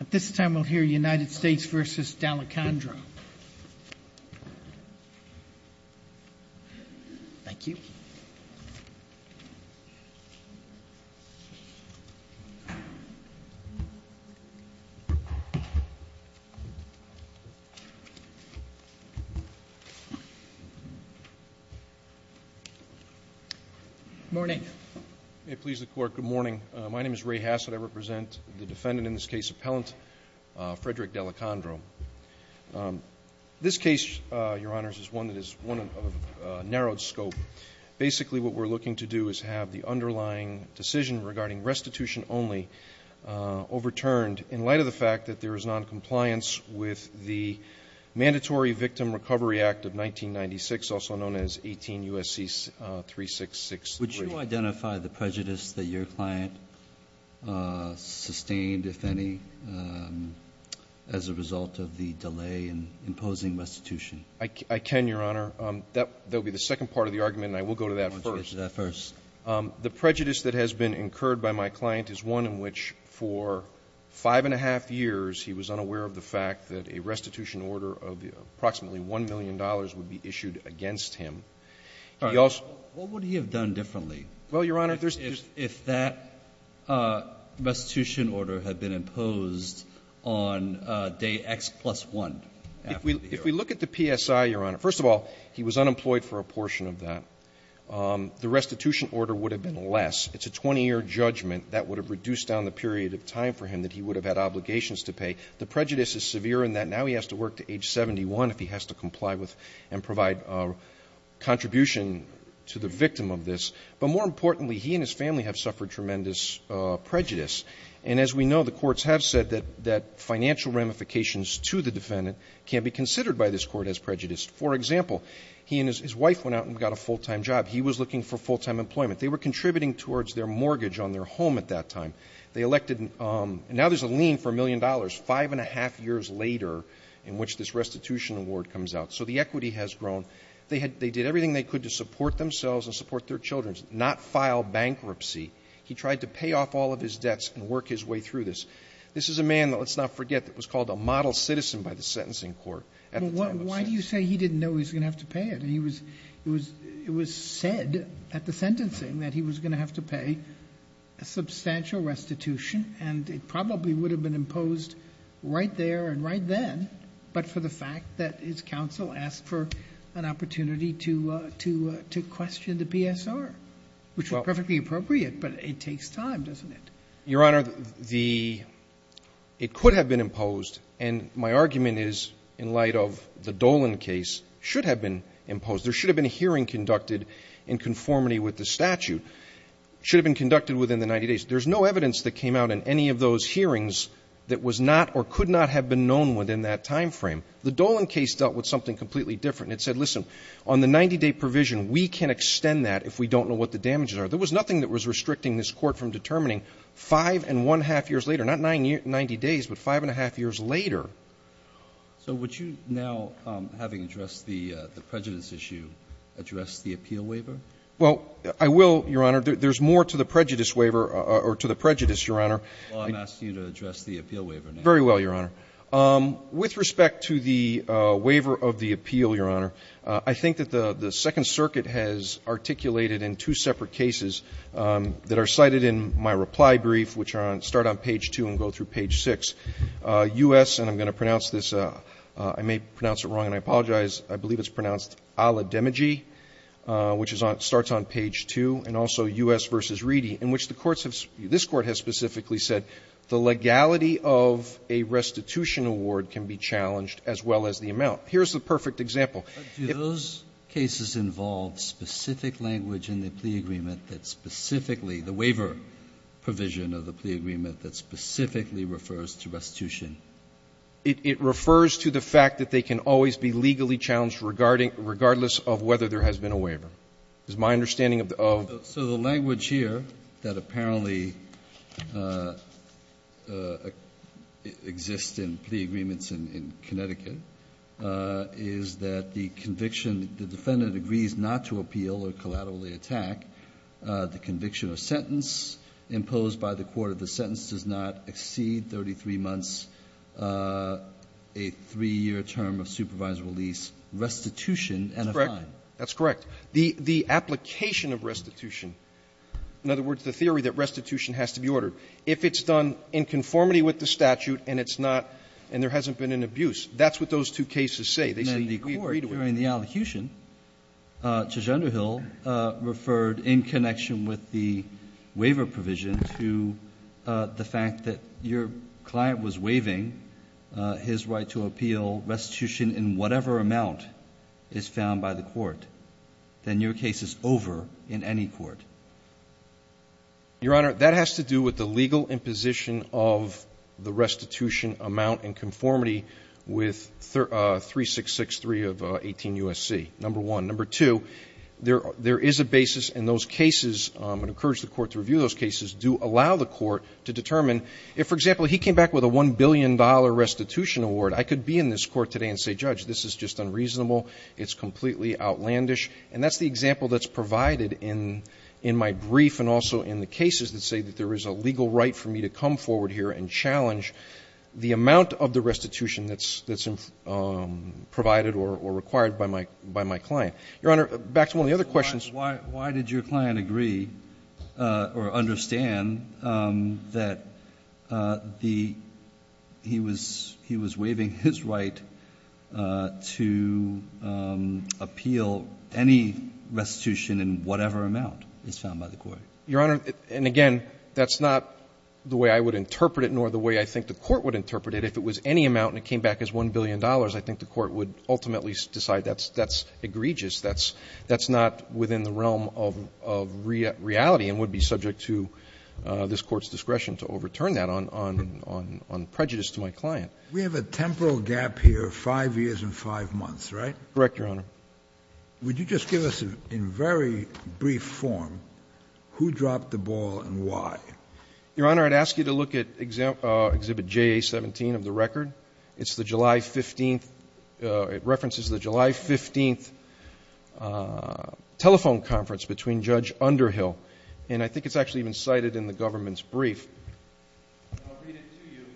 At this time, we'll hear United States v. D'Alecandro. Thank you. Morning. May it please the court, good morning. My name is Ray Hassett. I represent the defendant in this case, appellant Frederick D'Alecandro. This case, your honors, is one that is one of a narrowed scope. Basically what we're looking to do is have the underlying decision regarding restitution only overturned in light of the fact that there is non-compliance with the Mandatory Victim Recovery Act of 1996, also known as 18 U.S.C. 366. Would you identify the prejudice that your client sustained, if any, as a result of the delay in imposing restitution? I can, your honor. That will be the second part of the argument, and I will go to that first. I'll go to that first. The prejudice that has been incurred by my client is one in which for five and a half years, he was unaware of the fact that a restitution order of approximately $1 million would be issued against him. He also What would he have done differently? Well, your honor, if there's If that restitution order had been imposed on day X plus 1 after the error? If we look at the PSI, your honor, first of all, he was unemployed for a portion of that. The restitution order would have been less. It's a 20-year judgment that would have reduced down the period of time for him that he would have had obligations to pay. The prejudice is severe in that now he has to work to age 71 if he has to comply and provide contribution to the victim of this. But more importantly, he and his family have suffered tremendous prejudice. And as we know, the courts have said that financial ramifications to the defendant can be considered by this court as prejudiced. For example, he and his wife went out and got a full-time job. He was looking for full-time employment. They were contributing towards their mortgage on their home at that time. They elected Now there's a lien for $1 million five and a half years later in which this restitution award comes out. So the equity has grown. They did everything they could to support themselves and support their children, not file bankruptcy. He tried to pay off all of his debts and work his way through this. This is a man, let's not forget, that was called a model citizen by the sentencing court at the time of sentence. Why do you say he didn't know he was going to have to pay it? And it was said at the sentencing that he was going to have to pay a substantial restitution. And it probably would have been imposed right there and right then, but for the time being, I'll ask for an opportunity to question the PSR, which is perfectly appropriate, but it takes time, doesn't it? Your Honor, it could have been imposed, and my argument is in light of the Dolan case, should have been imposed. There should have been a hearing conducted in conformity with the statute. It should have been conducted within the 90 days. There's no evidence that came out in any of those hearings that was not or could not have been known within that time frame. The Dolan case dealt with something completely different, and it said, listen, on the 90-day provision, we can extend that if we don't know what the damages are. There was nothing that was restricting this Court from determining 5.5 years later. Not 90 days, but 5.5 years later. So would you now, having addressed the prejudice issue, address the appeal waiver? Well, I will, Your Honor. There's more to the prejudice waiver or to the prejudice, Your Honor. Well, I've asked you to address the appeal waiver. Very well, Your Honor. With respect to the waiver of the appeal, Your Honor, I think that the Second Circuit has articulated in two separate cases that are cited in my reply brief, which start on page 2 and go through page 6. U.S. and I'm going to pronounce this, I may pronounce it wrong and I apologize. I believe it's pronounced Ala-Demigi, which starts on page 2, and also U.S. v. Reedy, in which the courts have, this Court has specifically said the legality of a restitution award can be challenged as well as the amount. Here's the perfect example. Do those cases involve specific language in the plea agreement that specifically the waiver provision of the plea agreement that specifically refers to restitution? It refers to the fact that they can always be legally challenged regarding regardless of whether there has been a waiver. It's my understanding of the of the So the language here that apparently exists in plea agreements in Connecticut is that the conviction, the defendant agrees not to appeal or collaterally attack the conviction or sentence imposed by the court. The sentence does not exceed 33 months, a 3-year term of supervisory release. Restitution and a fine. That's correct. The application of restitution, in other words, the theory that restitution has to be ordered, if it's done in conformity with the statute and it's not and there What does those two cases say? They say we agree to it. The Court, during the allocution, Judge Underhill referred in connection with the waiver provision to the fact that your client was waiving his right to appeal restitution in whatever amount is found by the court. Then your case is over in any court. Your Honor, that has to do with the legal imposition of the restitution amount in conformity with 3663 of 18 U.S.C., number one. Number two, there is a basis in those cases, and I encourage the court to review those cases, do allow the court to determine if, for example, he came back with a $1 billion restitution award, I could be in this court today and say, Judge, this is just unreasonable. It's completely outlandish. And that's the example that's provided in my brief and also in the cases that say that there is a legal right for me to come forward here and challenge the amount of the restitution that's provided or required by my client. Your Honor, back to one of the other questions. Why did your client agree or understand that he was waiving his right to appeal any restitution in whatever amount is found by the court? Your Honor, and again, that's not the way I would interpret it nor the way I think the court would interpret it. If it was any amount and it came back as $1 billion, I think the court would ultimately decide that's egregious, that's not within the realm of reality and would be subject to this Court's discretion to overturn that on prejudice to my client. We have a temporal gap here of 5 years and 5 months, right? Correct, Your Honor. Would you just give us, in very brief form, who dropped the ball and why? Your Honor, I'd ask you to look at Exhibit JA-17 of the record. It's the July 15th – it references the July 15th telephone conference between Judge Underhill. And I think it's actually been cited in the government's brief. I'll read it to you.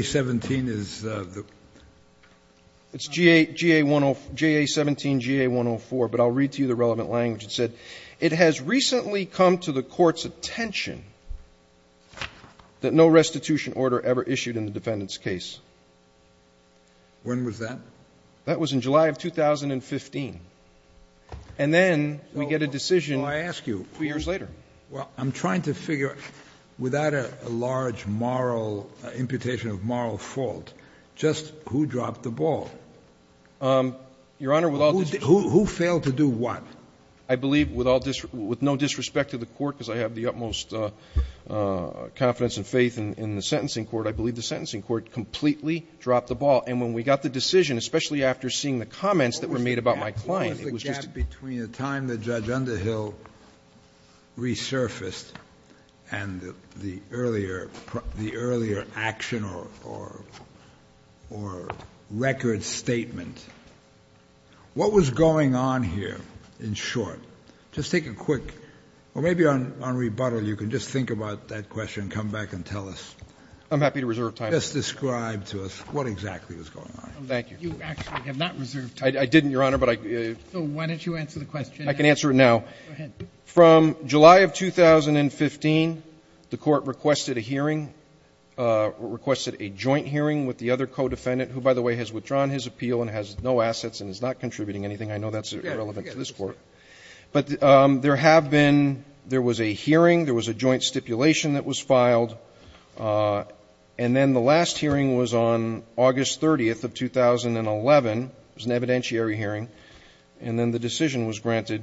JA-17 is the – it's JA-17 GA-104, but I'll read to you the relevant language. It said, It has recently come to the Court's attention that no restitution order ever issued in the defendant's case. When was that? That was in July of 2015. And then we get a decision 2 years later. Well, I'm trying to figure, without a large moral imputation of moral fault, just who dropped the ball? Your Honor, with all disrespect to the Court, because I have the utmost confidence and faith in the sentencing court, I believe the sentencing court completely dropped the ball. And when we got the decision, especially after seeing the comments that were made about my client, it was just a – What was the gap between the time that Judge Underhill resurfaced and the earlier action or record statement? What was going on here, in short? Just take a quick – or maybe on rebuttal you can just think about that question, come back and tell us. I'm happy to reserve time. Just describe to us what exactly was going on. Thank you. You actually have not reserved time. I didn't, Your Honor, but I – So why don't you answer the question? I can answer it now. Go ahead. From July of 2015, the Court requested a hearing, requested a joint hearing with the other co-defendant, who, by the way, has withdrawn his appeal and has no assets and is not contributing anything. I know that's irrelevant to this Court. But there have been – there was a hearing, there was a joint stipulation that was filed, and then the last hearing was on August 30th of 2011. It was an evidentiary hearing. And then the decision was granted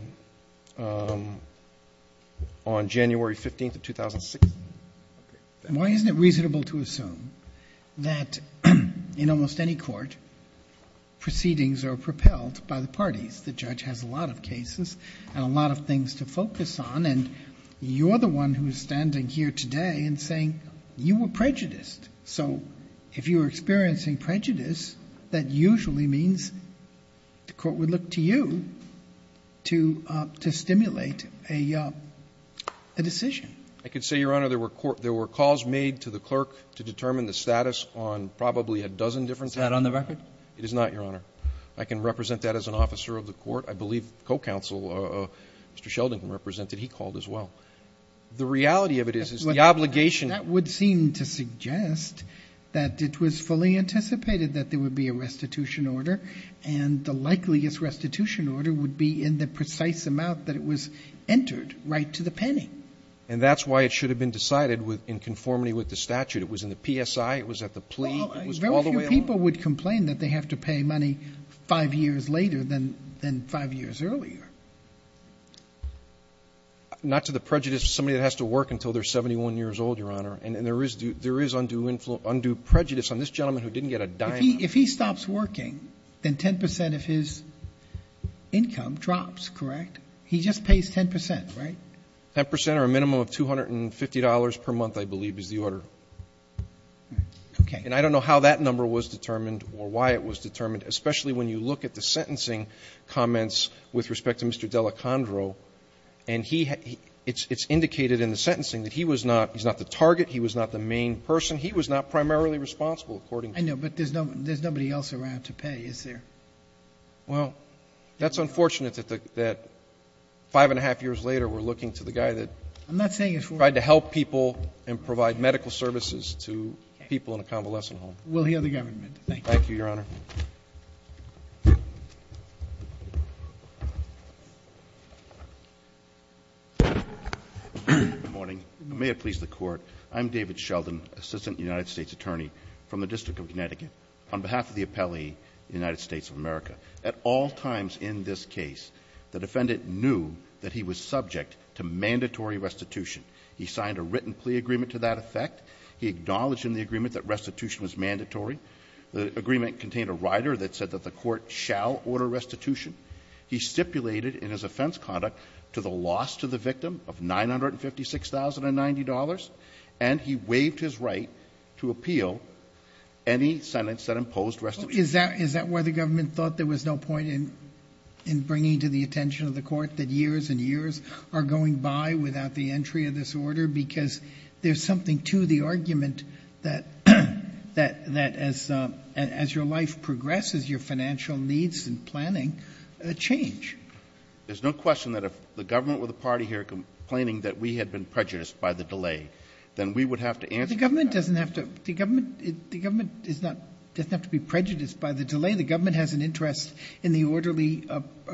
on January 15th of 2006. And why isn't it reasonable to assume that in almost any court, proceedings are propelled by the parties? The judge has a lot of cases and a lot of things to focus on, and you're the one who is standing here today and saying you were prejudiced. So if you were experiencing prejudice, that usually means the Court would look to you to stimulate a decision. I could say, Your Honor, there were calls made to the clerk to determine the status on probably a dozen different cases. Is that on the record? It is not, Your Honor. I can represent that as an officer of the Court. I believe the co-counsel, Mr. Sheldon, can represent it. He called as well. The reality of it is, is the obligation – That would seem to suggest that it was fully anticipated that there would be a restitution order, and the likeliest restitution order would be in the precise amount that it was entered, right to the penny. And that's why it should have been decided in conformity with the statute. It was in the PSI, it was at the plea, it was all the way along – Well, very few people would complain that they have to pay money five years later than five years earlier. Not to the prejudice of somebody that has to work until they're 71 years old, Your Honor. And there is undue prejudice on this gentleman who didn't get a dime. If he stops working, then 10 percent of his income drops, correct? He just pays 10 percent, right? 10 percent or a minimum of $250 per month, I believe, is the order. Okay. And I don't know how that number was determined or why it was determined, especially when you look at the sentencing comments with respect to Mr. Delacondro. And he – it's indicated in the sentencing that he was not – he's not the target, he was not the main person. He was not primarily responsible, according to – I know, but there's nobody else around to pay, is there? Well, that's unfortunate that five and a half years later, we're looking to the guy that tried to help people and provide medical services to people in a convalescent home. We'll hear the government. Thank you. Thank you, Your Honor. Good morning. May it please the Court. I'm David Sheldon, Assistant United States Attorney from the District of Connecticut. On behalf of the appellee, the United States of America, at all times in this case, the defendant knew that he was subject to mandatory restitution. He signed a written plea agreement to that effect. He acknowledged in the agreement that restitution was mandatory. The agreement contained a rider that said that the Court shall order restitution. He stipulated in his offense conduct to the loss to the victim of $956,090, and he waived his right to appeal any sentence that imposed restitution. Is that why the government thought there was no point in bringing to the attention of the Court that years and years are going by without the entry of this order? Because there's something to the argument that as your life progresses, your financial needs and planning change. There's no question that if the government were the party here complaining that we had been prejudiced by the delay, then we would have to answer that. The government doesn't have to be prejudiced by the delay. The government has an interest in the orderly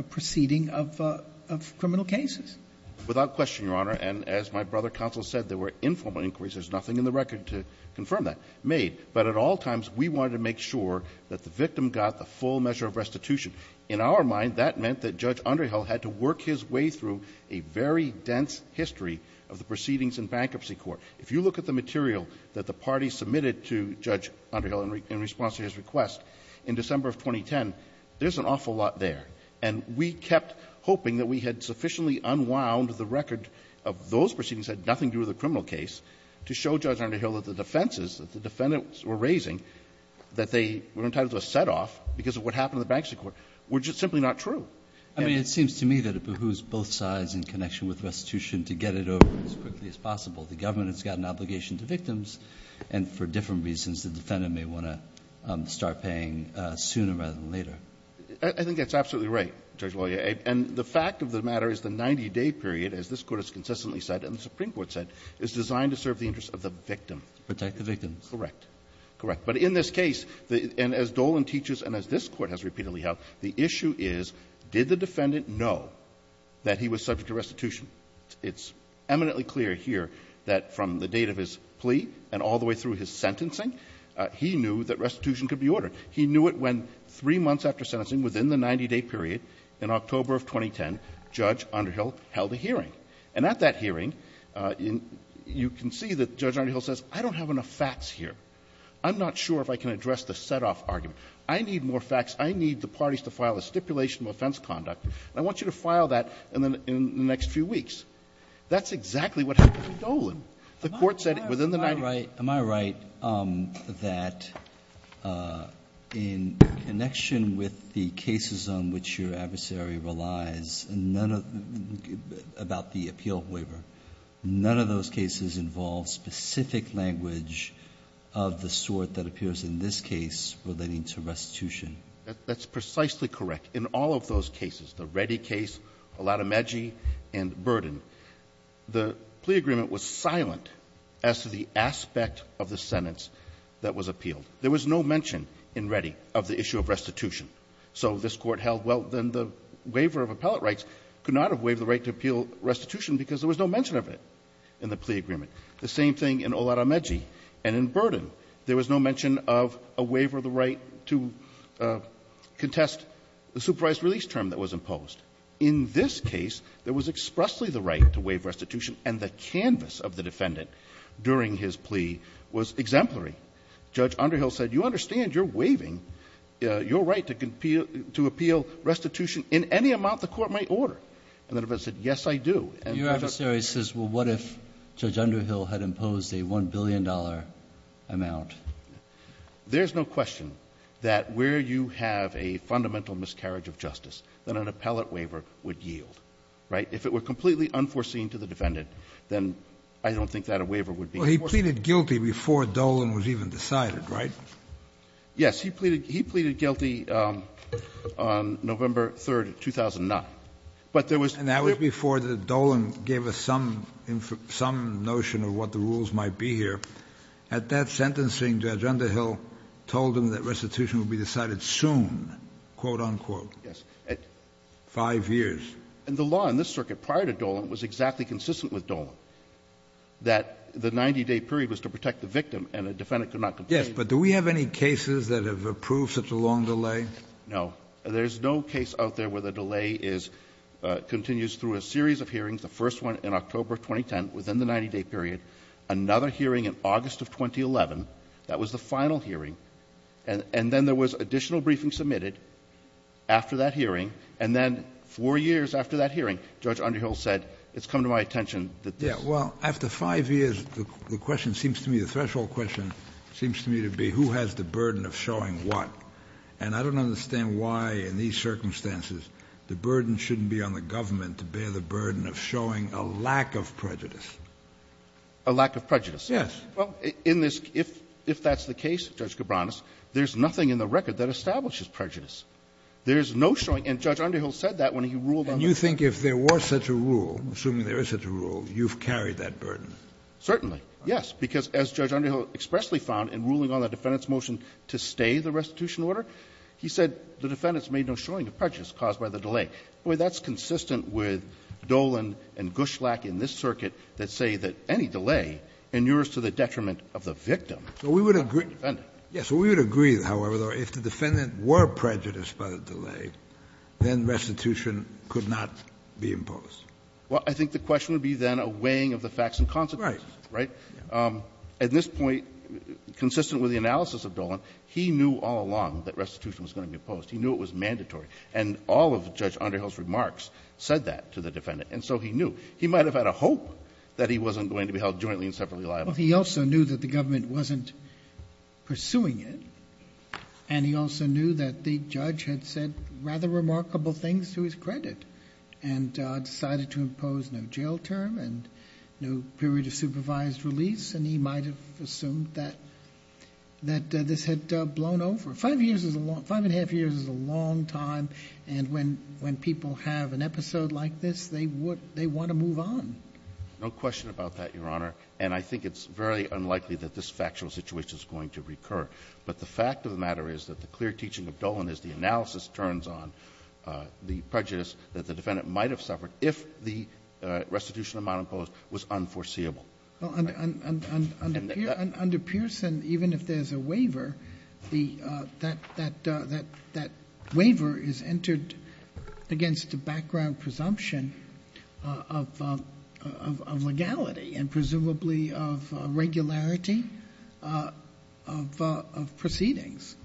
proceeding of criminal cases. Without question, Your Honor. And as my brother counsel said, there were informal inquiries. There's nothing in the record to confirm that. But at all times, we wanted to make sure that the victim got the full measure of restitution. In our mind, that meant that Judge Underhill had to work his way through a very dense history of the proceedings in Bankruptcy Court. If you look at the material that the party submitted to Judge Underhill in response to his request in December of 2010, there's an awful lot there. And we kept hoping that we had sufficiently unwound the record of those proceedings that had nothing to do with the criminal case to show Judge Underhill that the defenses that the defendants were raising, that they were entitled to a set-off because of what happened in the Bankruptcy Court, were just simply not true. I mean, it seems to me that it behooves both sides in connection with restitution to get it over as quickly as possible. The government has got an obligation to victims, and for different reasons, the defendant may want to start paying sooner rather than later. I think that's absolutely right, Judge Loya. And the fact of the matter is the 90-day period, as this Court has consistently said and the Supreme Court said, is designed to serve the interests of the victim. Protect the victims. Correct. Correct. But in this case, and as Dolan teaches and as this Court has repeatedly held, the issue is, did the defendant know that he was subject to restitution? It's eminently clear here that from the date of his plea and all the way through his sentencing, he knew that restitution could be ordered. He knew it when three months after sentencing, within the 90-day period, in October of 2010, Judge Underhill held a hearing. And at that hearing, you can see that Judge Underhill says, I don't have enough facts here. I'm not sure if I can address the setoff argument. I need more facts. I need the parties to file a stipulation of offense conduct. I want you to file that in the next few weeks. That's exactly what happened with Dolan. The Court said within the 90-day period. Am I right that in connection with the cases on which your adversary relies, and none of those cases involve specific language of the sort that appears in this case relating to restitution? That's precisely correct. In all of those cases, the Reddy case, Olatomegi, and Burden, the plea agreement was silent as to the aspect of the sentence that was appealed. There was no mention in Reddy of the issue of restitution. So this Court held, well, then the waiver of appellate rights could not have waived the right to appeal restitution because there was no mention of it in the plea agreement. The same thing in Olatomegi and in Burden. There was no mention of a waiver of the right to contest the supervised release term that was imposed. In this case, there was expressly the right to waive restitution, and the canvas of the defendant during his plea was exemplary. Judge Underhill said, you understand you're waiving your right to appeal restitution in any amount the Court might order. And the defendant said, yes, I do. And Judge Underhill said, well, what if Judge Underhill had imposed a $1 billion amount? There's no question that where you have a fundamental miscarriage of justice, then an appellate waiver would yield, right? If it were completely unforeseen to the defendant, then I don't think that a waiver would be unforeseen. So he pleaded guilty before Dolan was even decided, right? Yes. He pleaded guilty on November 3rd, 2009. But there was clear ---- And that was before Dolan gave us some notion of what the rules might be here. At that sentencing, Judge Underhill told him that restitution would be decided soon, quote, unquote. Yes. Five years. And the law in this circuit prior to Dolan was exactly consistent with Dolan, that the 90-day period was to protect the victim and the defendant could not complain. Yes. But do we have any cases that have approved such a long delay? No. There's no case out there where the delay is ---- continues through a series of hearings, the first one in October of 2010, within the 90-day period, another hearing in August of 2011. That was the final hearing. And then there was additional briefing submitted after that hearing. Well, after five years, the question seems to me, the threshold question seems to me to be who has the burden of showing what. And I don't understand why, in these circumstances, the burden shouldn't be on the government to bear the burden of showing a lack of prejudice. A lack of prejudice. Yes. Well, in this ---- if that's the case, Judge Cabranes, there's nothing in the record that establishes prejudice. And you think if there were such a rule, assuming there is such a rule, you've carried that burden? Certainly. Yes. Because as Judge Underhill expressly found in ruling on the defendant's motion to stay the restitution order, he said the defendant's made no showing of prejudice caused by the delay. Boy, that's consistent with Dolan and Gushlak in this circuit that say that any delay inures to the detriment of the victim, not the defendant. We would agree, however, though, if the defendant were prejudiced by the delay, then restitution could not be imposed. Well, I think the question would be then a weighing of the facts and consequences. Right. Right? Yeah. At this point, consistent with the analysis of Dolan, he knew all along that restitution was going to be imposed. He knew it was mandatory. And all of Judge Underhill's remarks said that to the defendant. And so he knew. He might have had a hope that he wasn't going to be held jointly and separately But he also knew that the government wasn't pursuing it, and he also knew that the government was doing rather remarkable things to his credit and decided to impose no jail term and no period of supervised release. And he might have assumed that this had blown over. Five and a half years is a long time. And when people have an episode like this, they want to move on. No question about that, Your Honor. And I think it's very unlikely that this factual situation is going to recur. But the fact of the matter is that the clear teaching of Dolan is the analysis turns on the prejudice that the defendant might have suffered if the restitution amount imposed was unforeseeable. Under Pearson, even if there's a waiver, that waiver is entered against a background presumption of legality and presumably of regularity of proceedings.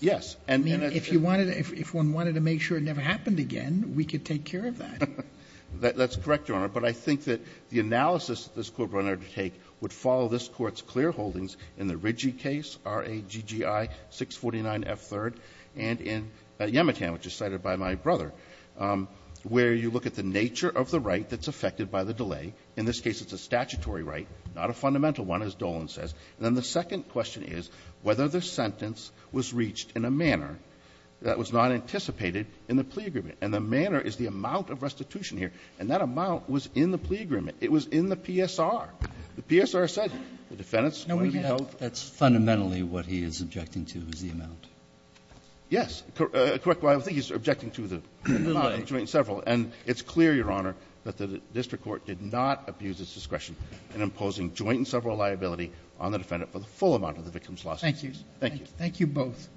Yes. I mean, if you wanted to — if one wanted to make sure it never happened again, we could take care of that. That's correct, Your Honor. But I think that the analysis that this Court brought in order to take would follow this Court's clear holdings in the Riggi case, R-A-G-G-I-649F3rd, and in Yemitan, which is cited by my brother, where you look at the nature of the right that's affected by the delay. In this case, it's a statutory right, not a fundamental one, as Dolan says. And then the second question is whether the sentence was reached in a manner that was not anticipated in the plea agreement. And the manner is the amount of restitution here. And that amount was in the plea agreement. It was in the PSR. The PSR said the defendant's going to be held. No, we have — that's fundamentally what he is objecting to, is the amount. Yes. Well, I think he's objecting to the amount of joint and several. And it's clear, Your Honor, that the district court did not abuse its discretion in imposing joint and several liability on the defendant for the full amount of the victim's lawsuits. Thank you. Thank you both.